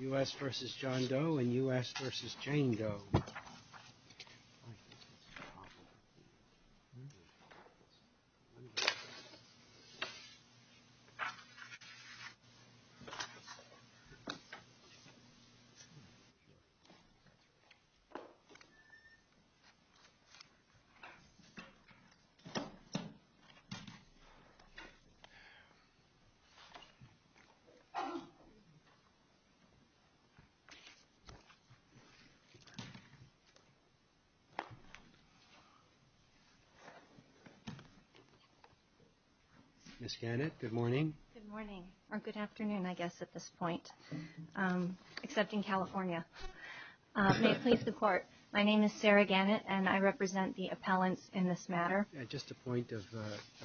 U.S. v. John Doe and U.S. v. Jane Doe Ms. Gannett, good morning. Good morning, or good afternoon, I guess at this point, except in California. May it please the Court, my name is Sarah Gannett and I represent the appellants in this matter. At just the point of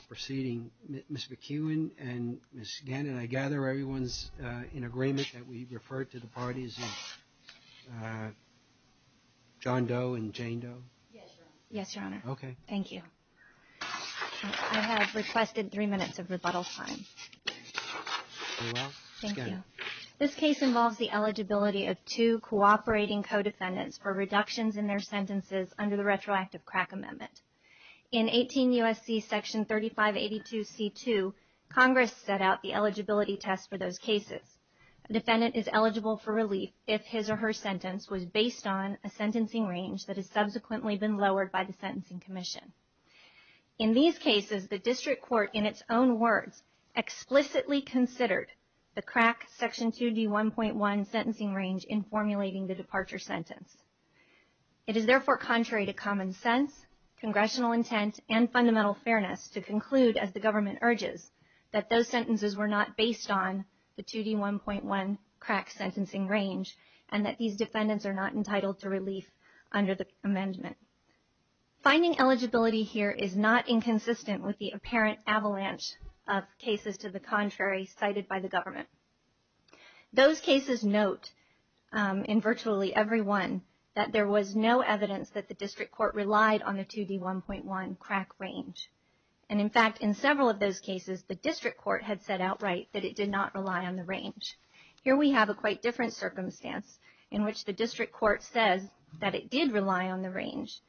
proceeding, Ms. McEwen and Ms. Gannett, I gather everyone's in agreement that we refer to the parties of John Doe and Jane Doe? Yes, Your Honor. Yes, Your Honor. Okay. Thank you. I have requested three minutes of rebuttal time. Very well. Ms. Gannett. Thank you. This case involves the eligibility of two cooperating co-defendants for reductions in their sentences under the retroactive crack amendment. In 18 U.S.C. Section 3582 C.2, Congress set out the eligibility test for those cases. A defendant is eligible for relief if his or her sentence was based on a sentencing range that has subsequently been lowered by the Sentencing Commission. In these cases, the District Court, in its own words, explicitly considered the crack Section 2D1.1 sentencing range in formulating the departure sentence. It is therefore contrary to common sense, congressional intent, and fundamental fairness to conclude, as the government urges, that those sentences were not based on the 2D1.1 crack sentencing range and that these defendants are not entitled to relief under the amendment. Finding eligibility here is not inconsistent with the apparent avalanche of cases to the contrary cited by the government. Those cases note, in virtually every one, that there was no evidence that the District Court relied on the 2D1.1 crack range. And in fact, in several of those cases, the District Court had said outright that it did not rely on the range. Here we have a quite different circumstance in which the District Court says that it did rely on the range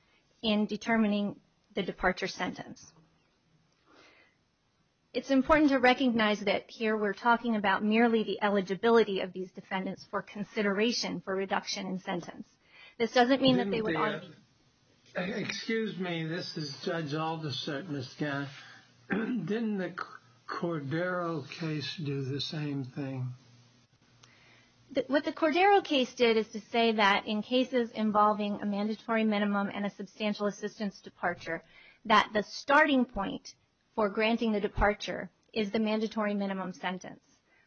in determining the departure sentence. It's important to recognize that here we're talking about merely the eligibility of these defendants for consideration for reduction in sentence. This doesn't mean that they would argue... Excuse me, this is Judge Alderson, Ms. Gantt. Didn't the Cordero case do the same thing? What the Cordero case did is to say that, in cases involving a mandatory minimum and a substantial assistance departure, that the starting point for granting the departure is the mandatory minimum sentence.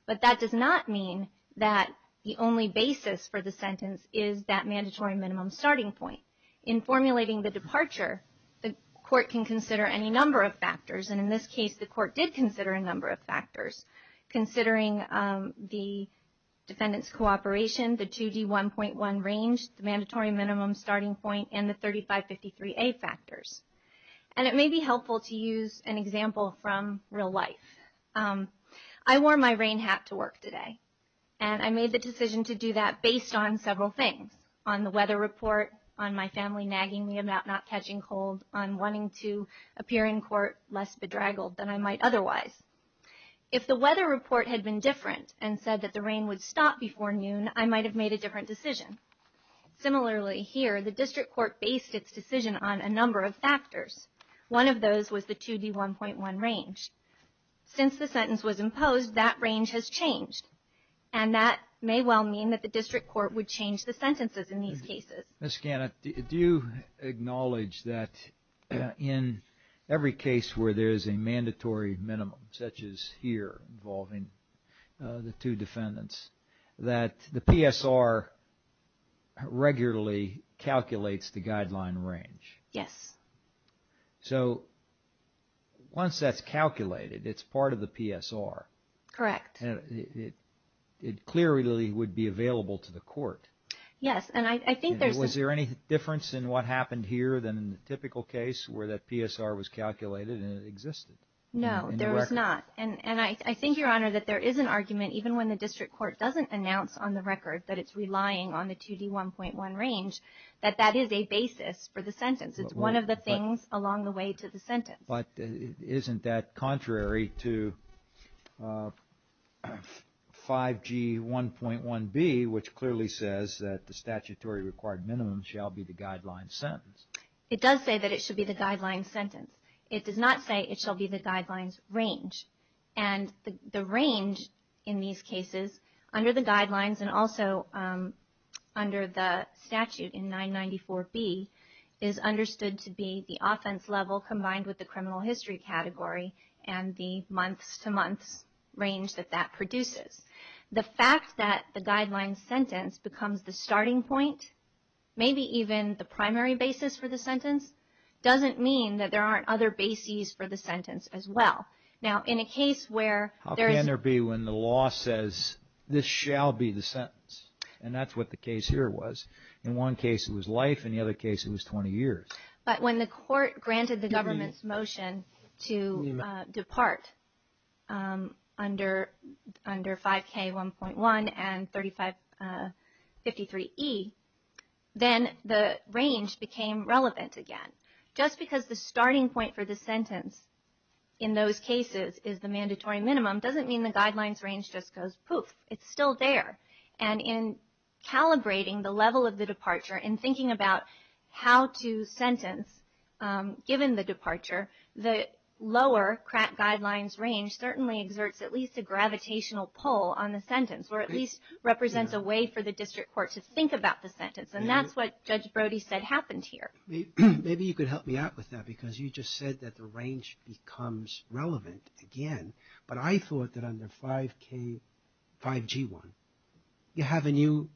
But that does not mean that the only basis for the sentence is that mandatory minimum starting point. In formulating the departure, the Court can consider any number of factors. And in this case, the Court did consider a number of factors, considering the defendant's cooperation, the 2D1.1 range, the mandatory minimum starting point, and the 3553A factors. And it may be helpful to use an example from real life. I wore my rain hat to work today, and I made the decision to do that based on several things, on the weather report, on my family nagging me about not catching cold, on wanting to appear in court less bedraggled than I might otherwise. If the weather report had been different and said that the rain would stop before noon, I might have made a different decision. Similarly here, the District Court based its decision on a number of factors. One of those was the 2D1.1 range. Since the sentence was imposed, that range has changed. And that may well mean that the District Court would change the sentences in these cases. Ms. Gannett, do you acknowledge that in every case where there is a mandatory minimum, such as here involving the two defendants, that the PSR regularly calculates the guideline range? Yes. So once that's calculated, it's part of the PSR. Correct. It clearly would be available to the court. Yes, and I think there's... Was there any difference in what happened here than in the typical case where that PSR was calculated and it existed? No, there was not. And I think, Your Honor, that there is an argument, even when the District Court doesn't announce on the record that it's relying on the 2D1.1 range, that that is a basis for the sentence. It's one of the things along the way to the sentence. But isn't that contrary to 5G1.1b, which clearly says that the statutory required minimum shall be the guideline sentence? It does say that it should be the guideline sentence. It does not say it shall be the guidelines range. And the range in these cases, under the guidelines and also under the statute in 994b, is understood to be the offense level combined with the criminal history category and the months-to-months range that that produces. The fact that the guideline sentence becomes the starting point, maybe even the primary basis for the sentence, doesn't mean that there aren't other bases for the sentence as well. Now, in a case where there is... How can there be when the law says, this shall be the sentence? And that's what the case here was. In one case, it was life. In the other case, it was 20 years. But when the Court granted the government's motion to depart under 5K1.1 and 3553e, then the range became relevant again. Just because the starting point for the sentence in those cases is the mandatory minimum doesn't mean the guidelines range just goes poof. It's still there. And in calibrating the level of the departure and thinking about how to sentence, given the departure, the lower crack guidelines range certainly exerts at least a gravitational pull on the sentence, or at least represents a way for the district court to think about the sentence. And that's what Judge Brody said happened here. Maybe you could help me out with that, because you just said that the range becomes relevant again. But I thought that under 5G1, you have a new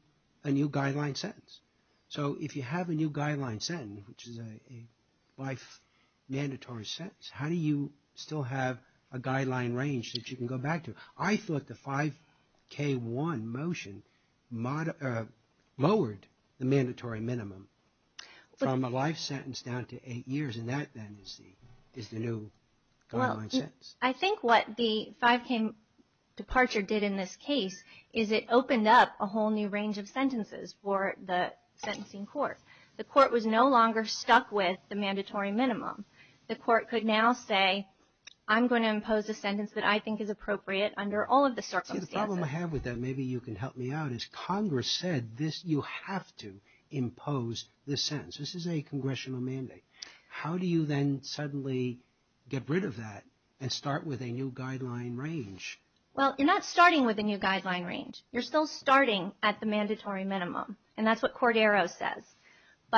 guideline sentence. So if you have a new guideline sentence, which is a life mandatory sentence, how do you still have a guideline range that you can go back to? I thought the 5K1 motion lowered the mandatory minimum from a life sentence down to eight years. And that, then, is the new guideline sentence. I think what the 5K departure did in this case is it opened up a whole new range of sentences for the sentencing court. The court was no longer stuck with the mandatory minimum. The court could now say, I'm going to impose a sentence that I think is appropriate under all of the circumstances. The problem I have with that, maybe you can help me out, is Congress said you have to impose the sentence. This is a congressional mandate. How do you then suddenly get rid of that and start with a new guideline range? Well, you're not starting with a new guideline range. You're still starting at the mandatory minimum. So, in effect, once you grant a 5K1 motion,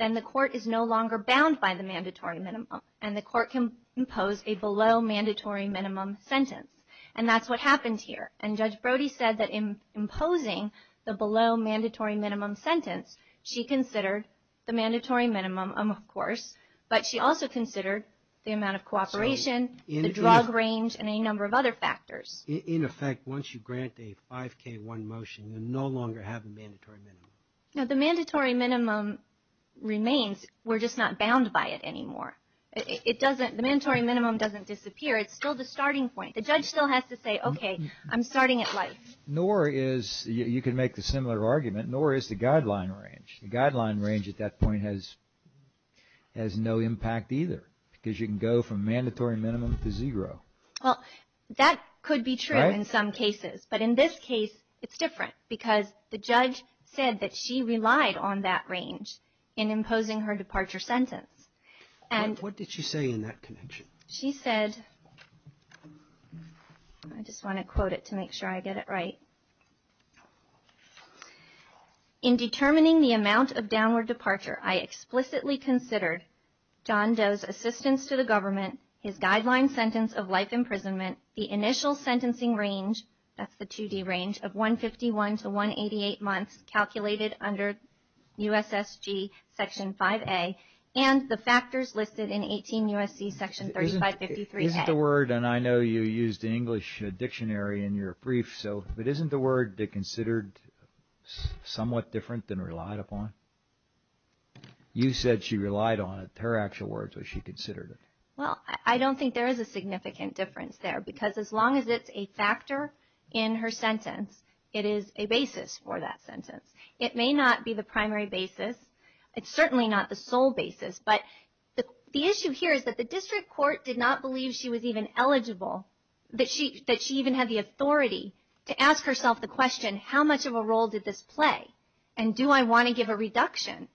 then the court is no longer bound by the mandatory minimum. And the court can impose a below mandatory minimum sentence. And that's what happened here. And Judge Brody said that in imposing the below mandatory minimum sentence, she considered the mandatory minimum, of course, but she also considered the amount of cooperation, the drug range, and a number of other factors. In effect, once you grant a 5K1 motion, you no longer have a mandatory minimum. Now, the mandatory minimum remains. We're just not bound by it anymore. The mandatory minimum doesn't disappear. It's still the starting point. The judge still has to say, okay, I'm starting at life. Nor is, you can make the similar argument, nor is the guideline range. The guideline range at that point has no impact either because you can go from mandatory minimum to zero. Well, that could be true in some cases. But in this case, it's different because the judge said that she relied on that range in imposing her departure sentence. And what did she say in that connection? She said, I just want to quote it to make sure I get it right. In determining the amount of downward departure, I explicitly considered John Doe's assistance to the government, his guideline sentence of life imprisonment, the initial sentencing range, that's the 2D range, of 151 to 188 months calculated under U.S.S.G. Section 5A, and the factors listed in 18 U.S.C. Section 3553A. Isn't the word, and I know you used the English dictionary in your brief, so isn't the word considered somewhat different than relied upon? You said she relied on it. Her actual words, was she considered it? Well, I don't think there is a significant difference there because as long as it's a factor in her sentence, it is a basis for that sentence. It may not be the primary basis. It's certainly not the sole basis. But the issue here is that the district court did not believe she was even eligible, that she even had the authority to ask herself the question, how much of a role did this play? And do I want to give a reduction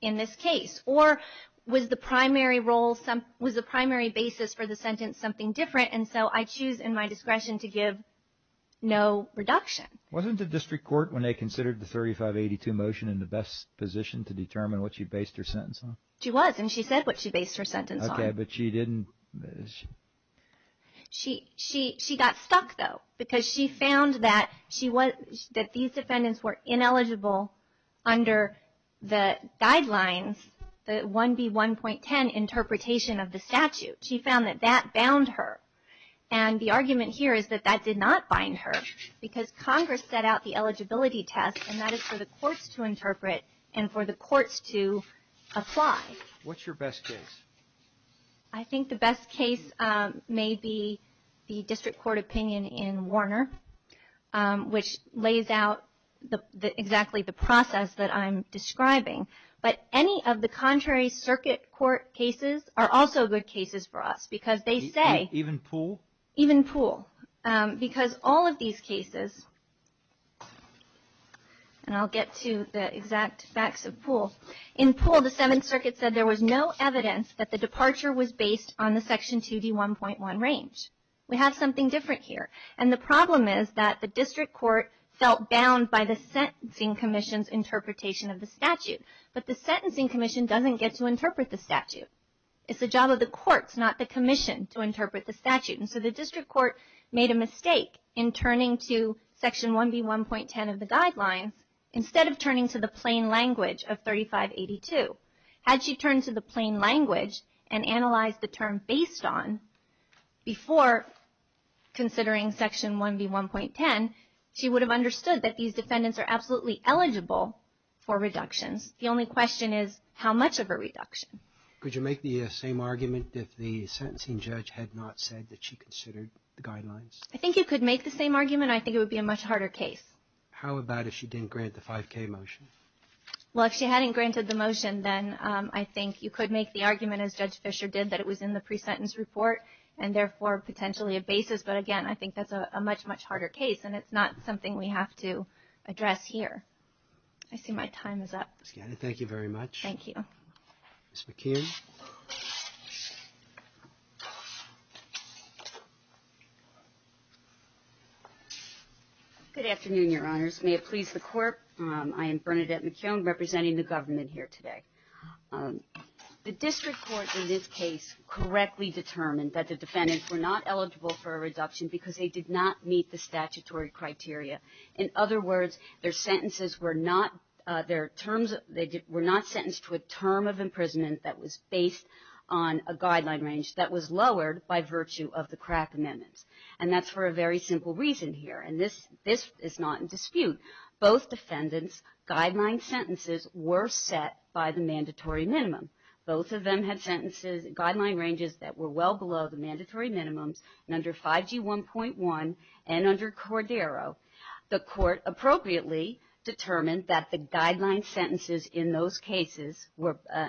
in this case? Or was the primary role, was the primary basis for the sentence something different? And so I choose in my discretion to give no reduction. Wasn't the district court, when they considered the 3582 motion, in the best position to determine what she based her sentence on? She was, and she said what she based her sentence on. Yeah, but she didn't. She got stuck, though, because she found that these defendants were ineligible under the guidelines, the 1B1.10 interpretation of the statute. She found that that bound her. And the argument here is that that did not bind her because Congress set out the eligibility test, and that is for the courts to interpret and for the courts to apply. What's your best case? I think the best case may be the district court opinion in Warner, which lays out exactly the process that I'm describing. But any of the contrary circuit court cases are also good cases for us, because they say. Even Poole? Even Poole. Because all of these cases, and I'll get to the exact facts of Poole. In Poole, the Seventh Circuit said there was no evidence that the departure was based on the Section 2D1.1 range. We have something different here. And the problem is that the district court felt bound by the sentencing commission's interpretation of the statute. But the sentencing commission doesn't get to interpret the statute. It's the job of the courts, not the commission, to interpret the statute. And so the district court made a mistake in turning to Section 1B1.10 of the guidelines instead of turning to the plain language of 3582. Had she turned to the plain language and analyzed the term based on before considering Section 1B1.10, she would have understood that these defendants are absolutely eligible for reductions. The only question is, how much of a reduction? Could you make the same argument if the sentencing judge had not said that she considered the guidelines? I think you could make the same argument. I think it would be a much harder case. How about if she didn't grant the 5K motion? Well, if she hadn't granted the motion, then I think you could make the argument, as Judge Fischer did, that it was in the pre-sentence report and therefore potentially a basis. But again, I think that's a much, much harder case. And it's not something we have to address here. I see my time is up. Ms. Gannon, thank you very much. Thank you. Ms. McKeon. Good afternoon, Your Honors. May it please the Court. I am Bernadette McKeon, representing the government here today. The district court in this case correctly determined that the defendants were not eligible for a reduction because they did not meet the statutory criteria. In other words, their sentences were not sentenced to a term of imprisonment that was based on a guideline range that was lowered by virtue of the crack amendments. And that's for a very simple reason here. And this is not in dispute. Both defendants' guideline sentences were set by the mandatory minimum. Both of them had sentences, guideline ranges, that were well below the mandatory minimums. And under 5G1.1 and under Cordero, the Court appropriately determined that the guideline sentences in those cases,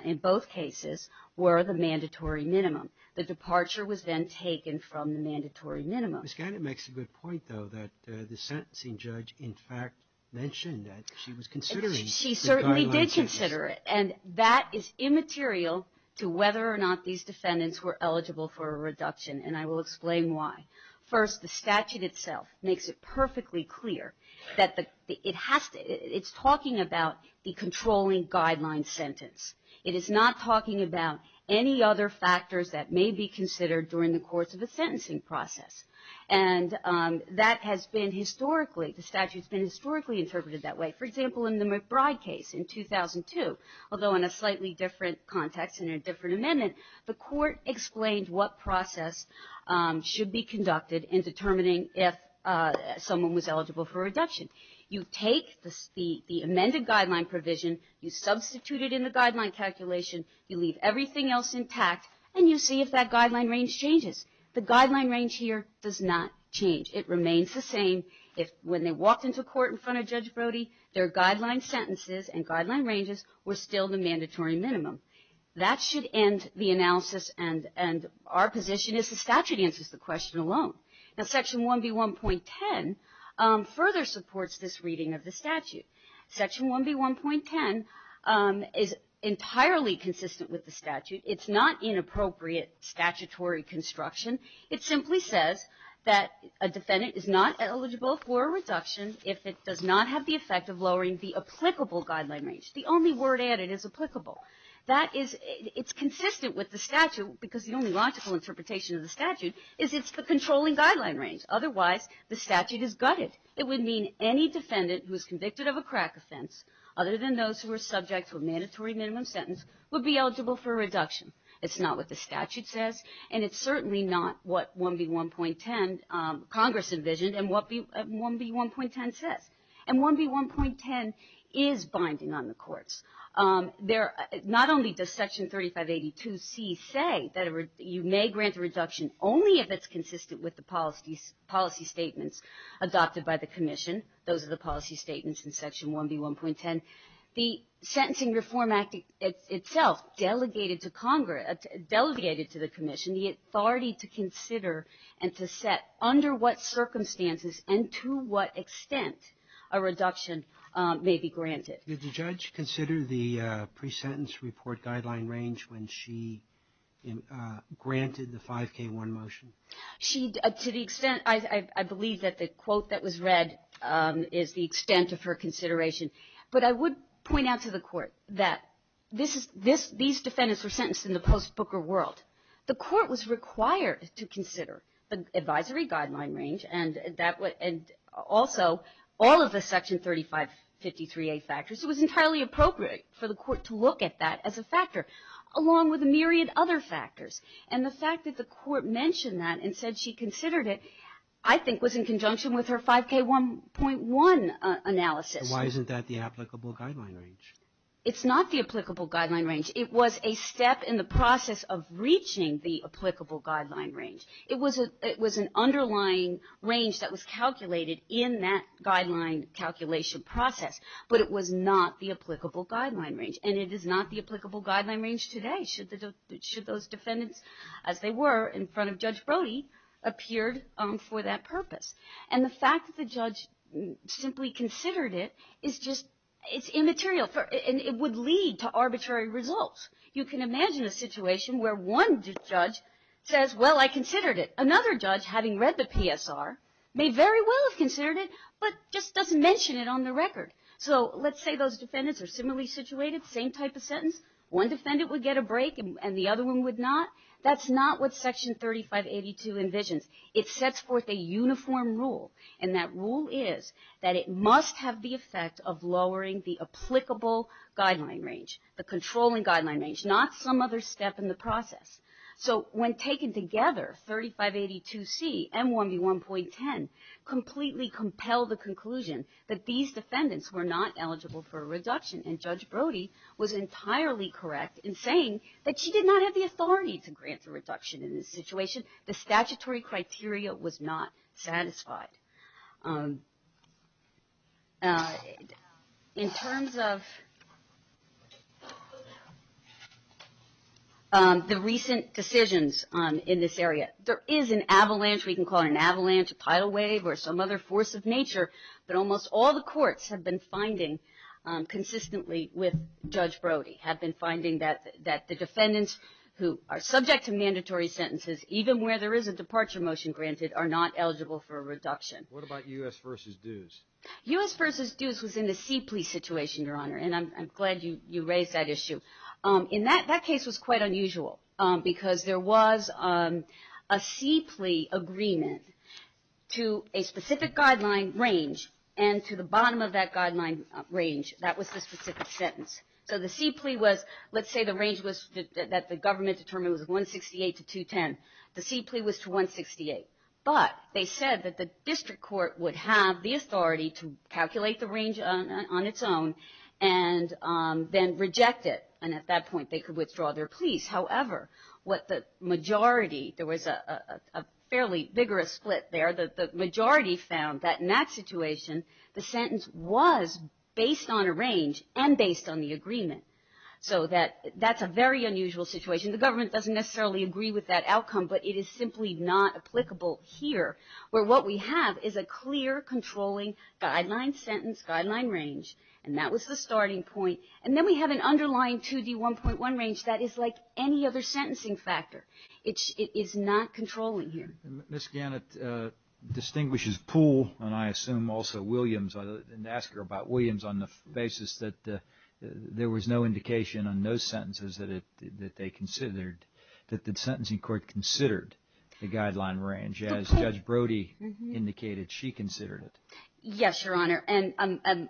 in both cases, were the mandatory minimum. The departure was then taken from the mandatory minimum. Ms. Gannon makes a good point, though, that the sentencing judge in fact mentioned that she was considering the guideline sentences. She certainly did consider it. And that is immaterial to whether or not these defendants were eligible for a reduction. And I will explain why. First, the statute itself makes it perfectly clear that it has to, it's talking about the controlling guideline sentence. It is not talking about any other factors that may be considered during the course of a sentencing process. And that has been historically, the statute's been historically interpreted that way. For example, in the McBride case in 2002, although in a slightly different context and a different amendment, the Court explained what process should be conducted in determining if someone was eligible for a reduction. You take the amended guideline provision, you substitute it in the guideline calculation, you leave everything else intact, and you see if that guideline range changes. The guideline range here does not change. It remains the same. When they walked into court in front of Judge Brody, their guideline sentences and guideline ranges were still the mandatory minimum. That should end the analysis, and our position is the statute answers the question alone. Section 1B1.10 further supports this reading of the statute. Section 1B1.10 is entirely consistent with the statute. It's not inappropriate statutory construction. It simply says that a defendant is not eligible for a reduction if it does not have the effect of lowering the applicable guideline range. The only word added is applicable. It's consistent with the statute because the only logical interpretation of the statute is it's the controlling guideline range. Otherwise, the statute is gutted. It would mean any defendant who is convicted of a crack offense, other than those who are subject to a mandatory minimum sentence, would be eligible for a reduction. It's not what the statute says, and it's certainly not what Congress envisioned and what 1B1.10 says. And 1B1.10 is binding on the courts. Not only does Section 3582C say that you may grant a reduction only if it's consistent with the policy statements adopted by the Commission. Those are the policy statements in Section 1B1.10. The Sentencing Reform Act itself delegated to Congress, delegated to the Commission, the authority to consider and to set under what circumstances and to what extent a reduction may be granted. Did the judge consider the pre-sentence report guideline range when she granted the 5K1 motion? To the extent, I believe that the quote that was read is the extent of her consideration. But I would point out to the Court that these defendants were sentenced in the post-Booker world. The Court was required to consider the advisory guideline range and also all of the Section 3553A factors. It was entirely appropriate for the Court to look at that as a factor, along with a myriad other factors. And the fact that the Court mentioned that and said she considered it, I think was in conjunction with her 5K1.1 analysis. Why isn't that the applicable guideline range? It's not the applicable guideline range. It was a step in the process of reaching the applicable guideline range. It was an underlying range that was calculated in that guideline calculation process. But it was not the applicable guideline range. And it is not the applicable guideline range today, should those defendants, as they were in front of Judge Brody, appeared for that purpose. And the fact that the judge simply considered it is just immaterial. It would lead to arbitrary results. You can imagine a situation where one judge says, well, I considered it. Another judge, having read the PSR, may very well have considered it, but just doesn't mention it on the record. So let's say those defendants are similarly situated, same type of sentence. One defendant would get a break and the other one would not. That's not what Section 3582 envisions. It sets forth a uniform rule. And that rule is that it must have the effect of lowering the applicable guideline range, the controlling guideline range, not some other step in the process. So when taken together, 3582C and 1B1.10 completely compel the conclusion that these defendants were not eligible for a reduction. And Judge Brody was entirely correct in saying that she did not have the authority to grant a reduction in this situation. The statutory criteria was not satisfied. In terms of the recent decisions in this area, there is an avalanche, we can call it an avalanche, a tidal wave, or some other force of nature, but almost all the courts have been finding consistently with Judge Brody, have been finding that the defendants who are subject to mandatory sentences, even where there is a departure motion granted, are not eligible for a reduction. What about U.S. v. Dews? U.S. v. Dews was in the Sea Plea situation, Your Honor, and I'm glad you raised that issue. That case was quite unusual, because there was a Sea Plea agreement to a specific guideline range, and to the bottom of that guideline range, that was the specific sentence. So the Sea Plea was, let's say the range that the government determined was 168 to 210. The Sea Plea was to 168. But they said that the district court would have the authority to calculate the range on its own and then reject it. And at that point, they could withdraw their pleas. However, what the majority, there was a fairly vigorous split there. The majority found that in that situation, the sentence was based on a range and based on the agreement. So that's a very unusual situation. The government doesn't necessarily agree with that outcome, but it is simply not applicable here, where what we have is a clear, controlling guideline sentence, guideline range. And that was the starting point. And then we have an underlying 2D1.1 range that is like any other sentencing factor. It is not controlling here. Ms. Gannett distinguishes Poole, and I assume also Williams, and asked her about Williams on the basis that there was no indication on those sentences that they considered, that the sentencing court considered the guideline range, as Judge Brody indicated she considered it. Yes, Your Honor. And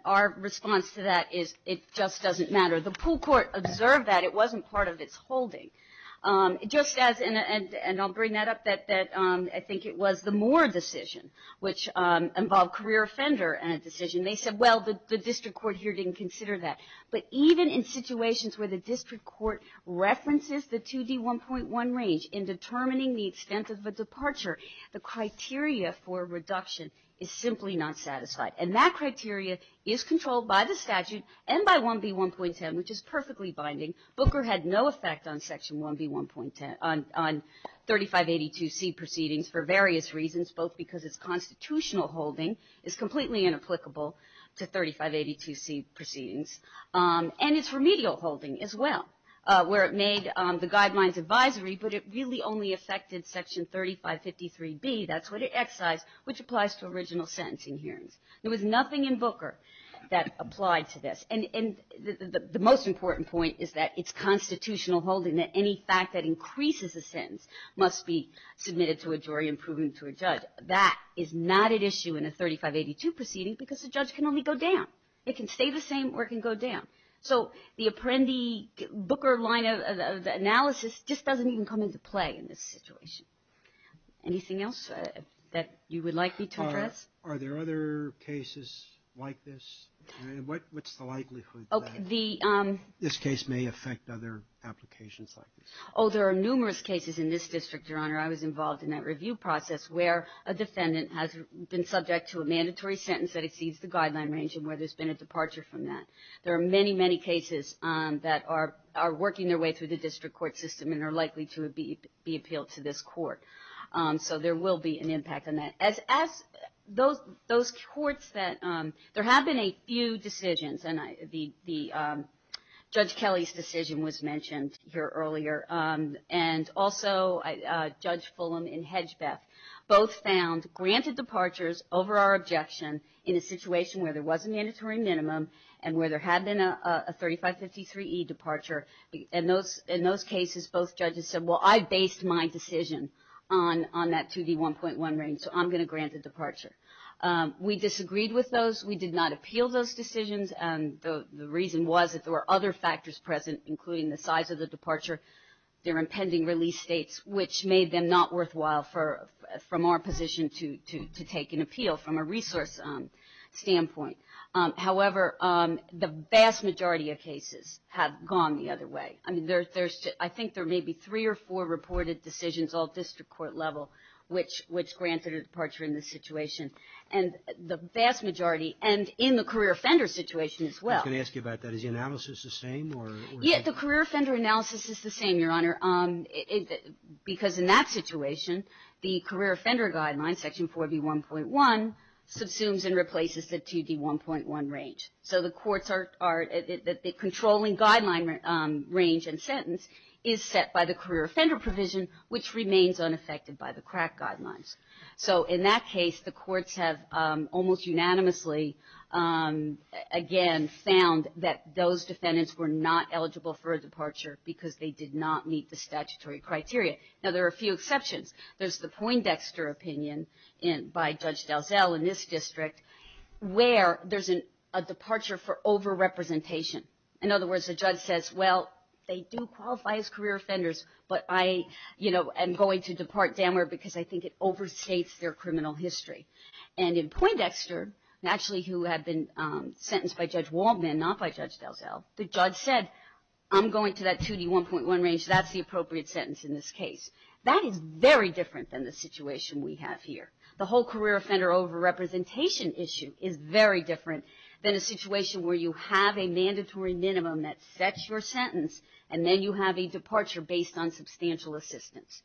our response to that is it just doesn't matter. The Poole court observed that. It wasn't part of its holding. Just as, and I'll bring that up, that I think it was the Moore decision, which involved career offender in a decision. They said, well, the district court here didn't consider that. But even in situations where the district court references the 2D1.1 range in determining the extent of a departure, the criteria for reduction is simply not satisfied. And that criteria is controlled by the statute and by 1B1.10, which is perfectly binding. Booker had no effect on Section 1B1.10, on 3582C proceedings for various reasons, both because its constitutional holding is completely inapplicable to 3582C proceedings, and its remedial holding as well, where it made the guidelines advisory, but it really only affected Section 3553B. That's what it excised, which applies to original sentencing hearings. There was nothing in Booker that applied to this. And the most important point is that it's constitutional holding that any fact that increases a sentence must be submitted to a jury and proven to a judge. That is not at issue in a 3582 proceeding because the judge can only go down. It can stay the same or it can go down. So the Apprendi-Booker line of analysis just doesn't even come into play in this situation. Anything else that you would like me to address? Are there other cases like this? What's the likelihood that this case may affect other applications like this? Oh, there are numerous cases in this district, Your Honor. I was involved in that review process where a defendant has been subject to a mandatory sentence that exceeds the guideline range and where there's been a departure from that. There are many, many cases that are working their way through the district court system and are likely to be appealed to this court. So there will be an impact on that. As those courts that, there have been a few decisions and Judge Kelly's decision was mentioned here earlier and also Judge Fulham and Hedgebeth both found granted departures over our objection in a situation where there was a mandatory minimum and where there had been a 3553E departure. In those cases, both judges said, well, I based my decision on that 2D1.1 range. So I'm going to grant a departure. We disagreed with those. We did not appeal those decisions. The reason was that there were other factors present including the size of the departure, their impending release dates, which made them not worthwhile from our position to take an appeal from a resource standpoint. However, the vast majority of cases have gone the other way. I think there may be three or four reported decisions at the result district court level which grants a departure in this situation. And the vast majority, and in the career offender situation as well. I was going to ask you about that. Is the analysis the same? Yes, the career offender analysis is the same, Your Honor. Because in that situation, the career offender guideline, Section 4B1.1, subsumes and replaces the 2D1.1 range. So the courts are, the controlling guideline range and sentence is set by the career offender provision which remains unaffected by the crack guidelines. So in that case, the courts have almost unanimously, again, found that those defendants were not eligible for a departure because they did not meet the statutory criteria. Now, there are a few exceptions. There's the Poindexter opinion by Judge Dalzell in this district where there's a departure for over-representation. In other words, the judge says, well, they do qualify as career offenders, but I, you know, am going to depart Danware because I think it overstates their criminal history. And in Poindexter, actually who had been sentenced by Judge Waldman, not by Judge Dalzell, the judge said, I'm going to that 2D1.1 range. That's the appropriate sentence in this case. That is very different than the situation we have here. The whole career offender over-representation issue is very different than a situation where you have a mandatory minimum that sets your sentence and then you have a departure based on substantial assistance.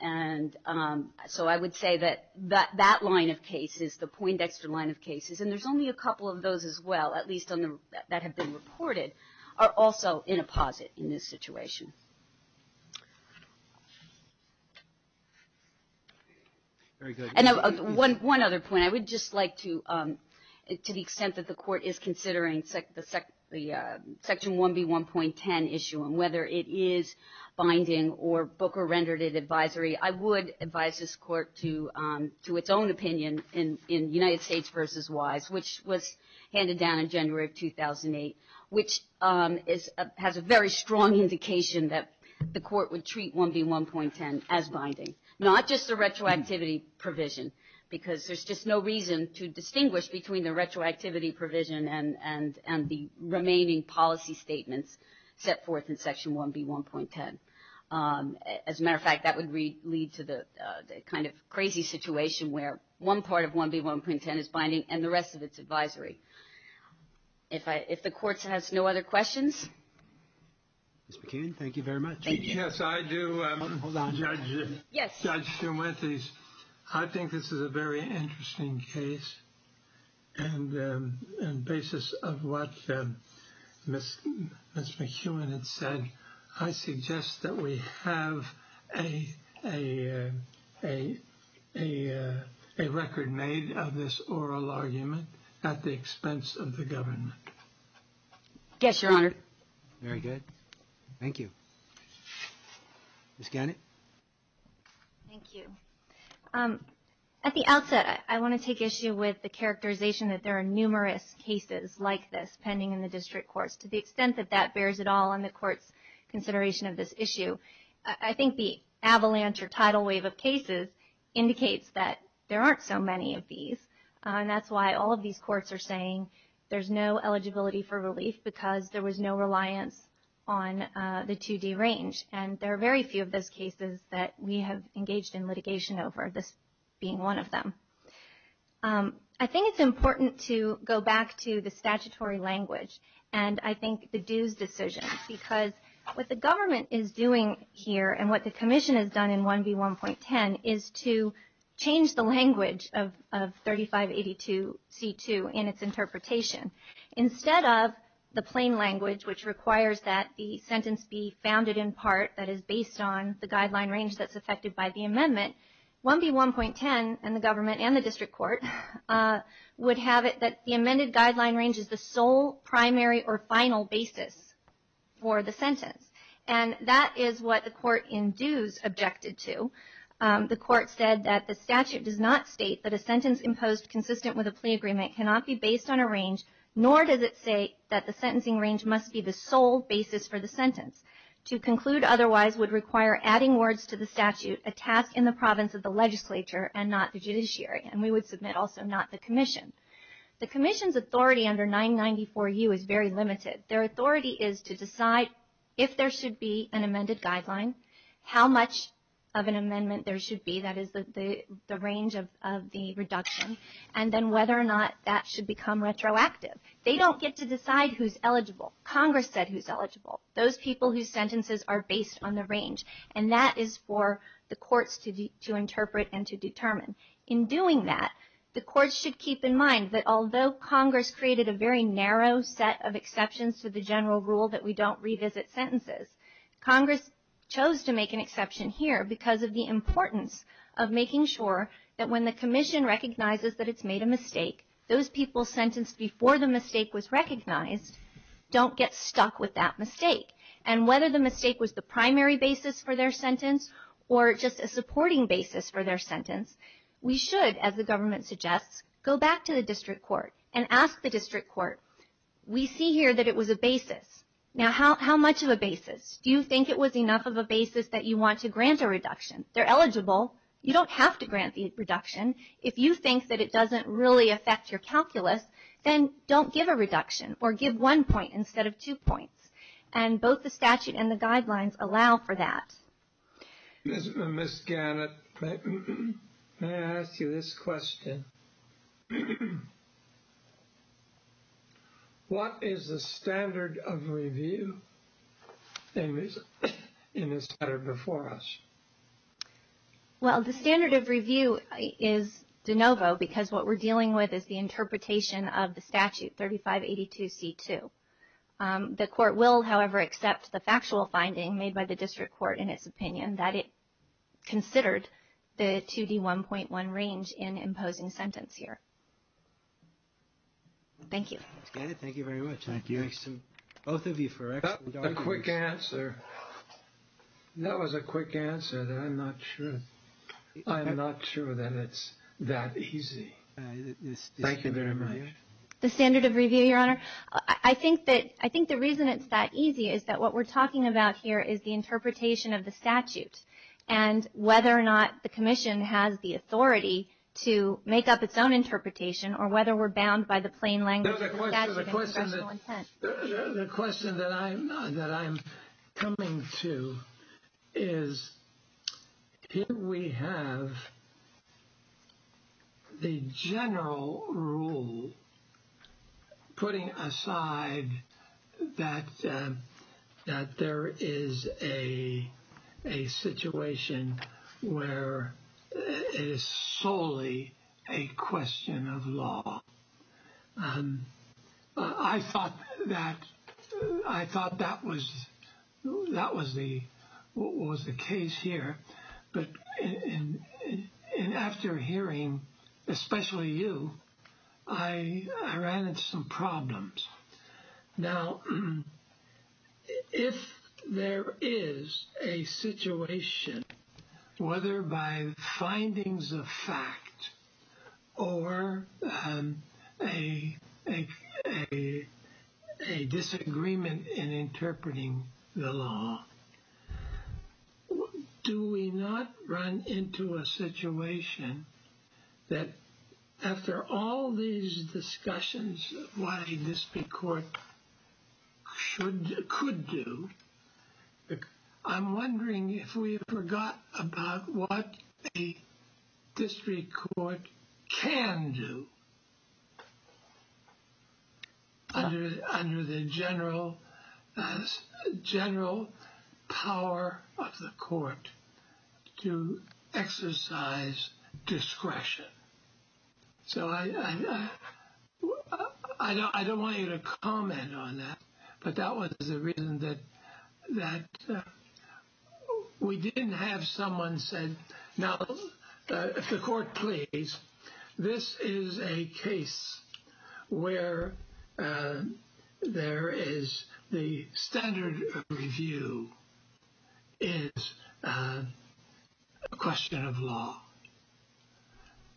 And so I would say that that line of cases, the Poindexter line of cases, and there's only a couple of those as well, at least that have been reported, are also in a posit in this situation. And one other point. I would just like to, to the extent that the court is considering the Section 1B1.10 issue and whether it is binding or Booker rendered it advisory, I would advise this court to its own opinion in United States v. Wise, which was handed down in January of 2008, which has a very strong indication that the court would treat 1B1.10 as binding, not just the retroactivity provision because there's just no reason to distinguish between the retroactivity provision and the remaining policy statements set forth in Section 1B1.10. As a matter of fact, that would lead to the kind of crazy situation where one part of 1B1.10 is binding and the rest of it's advisory. If the court has no other questions? Ms. McCain, thank you very much. Thank you. Yes, I do. Hold on. Yes. Judge Stenwethys, I think this is a very interesting case and basis of what Ms. McEwen had said. I suggest that we have a record made of this oral argument at the expense of the government. Yes, Your Honor. Very good. Thank you. Ms. Gannett? Thank you. At the outset, I want to take issue with the characterization that there are numerous cases like this pending in the district courts to the extent that that bears it all on the court's consideration of this issue. I think the avalanche or tidal wave of cases indicates that there aren't so many of these and that's why all of these courts are saying there's no eligibility for relief because there was no reliance on the 2D range and there are very few of those cases that we have engaged in litigation over, this being one of them. I think it's important to go back to the statutory language and I think the dues decision because what the government is doing here and what the Commission has done in 1B1.10 is to change the language of 3582C2 in its interpretation. Instead of the plain language which requires that the sentence be founded in part that is based on the guideline range that's affected by the amendment, 1B1.10 and the government and the district court would have it that the amended guideline range is the sole primary or final basis for the sentence and that is what the court in dues objected to. The court said that the statute does not state that a sentence imposed consistent with a plea agreement cannot be based on a range nor does it say that the sentencing range must be the sole basis for the sentence. To conclude otherwise would require adding words to the statute, a task in the province of the legislature and not the judiciary and we would submit also not the Commission. The Commission's authority under 994U is very limited. Their authority is to decide if there should be an amended guideline, how much of an amendment there should be that is the range of the reduction and then whether or not that should become retroactive. They don't get to decide who's eligible. Congress said who's eligible. Those people whose sentences are based on the range and that is for the courts to interpret and to determine. In doing that, the courts should keep in mind that although Congress created a very narrow set of exceptions to the general rule that we don't revisit sentences, Congress chose to make an exception here because of the importance of making sure that when the Commission recognizes that it's made a mistake, those people sentenced before the mistake was recognized don't get stuck with that mistake and whether the mistake was the primary basis for their sentence or just a supporting basis for their sentence, we should, as the government suggests, go back to the district court and ask the district court, we see here that it was a basis. Now how much of a basis? Do you think it was enough of a basis that you want to grant a reduction? They're eligible. You don't have to grant the reduction. If you think that it doesn't really affect your calculus, then don't give a reduction or give one point instead of two points and both the statute and the guidelines allow for that. Ms. Gannett, may I ask you this question? What is the standard of review in the statute before us? Well, the standard of review is de novo because what we're dealing with is the interpretation of the statute 3582C2. The court will, however, accept the factual finding made by the district court in its opinion that it considered the 2D1.1 range in imposing sentence here. Thank you. Ms. Gannett, thank you very much. Thank you. Thanks to both of you for excellent answers. A quick answer. That was a quick answer that I'm not sure. I'm not sure that it's that easy. Thank you very much. The standard of review, Your Honor? I think that I think the reason it's that easy is that what we're talking about here is the interpretation of the statute and whether or not the commission has the authority to make up its own interpretation or whether we're bound by the plain language of the statute and congressional intent. The question that I'm coming to is here we have the general rule putting aside that that there is a situation where it is solely a question of law. I thought that I thought that was that was the what was the case here. But after hearing especially you I ran into some problems Now if there is a situation whether by findings of fact or a a disagreement in interpreting the law do we not run into a situation that after all these discussions what a district court should could do I'm wondering if we forgot about what a district court can do under the general general power of the court to exercise discretion. So I I I don't I don't want you to comment on that but that was the reason that that we didn't have someone said now if the court please this is a case where there is the standard review is a question of law.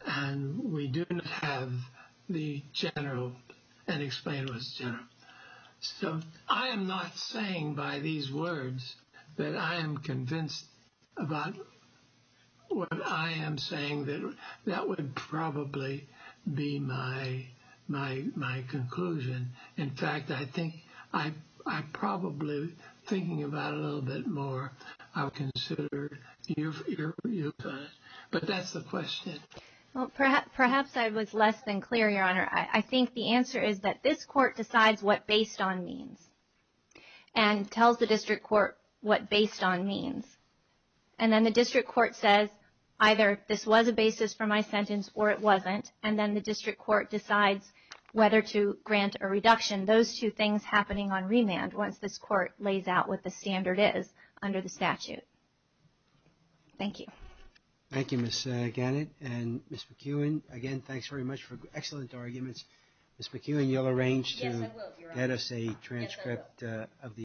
And we do not have the general unexplained was general. So I am not saying by these words that I am convinced about what I am saying that that would probably be my my my conclusion in fact I think I probably thinking about a little bit more I would consider your your but that's the question. Well perhaps perhaps I was less than clear Your Honor. I think the answer is that this court decides what based on means and tells the district court what based on means and then the district court says either this was a basis for my sentence or it wasn't and then the district court decides whether to grant a reduction those two things happening on remand once this court lays out what the standard is under the statute. Thank you. Thank you Ms. Gannett and Ms. McEwen again thanks very much for excellent arguments Ms. McEwen you'll arrange to get us a transcript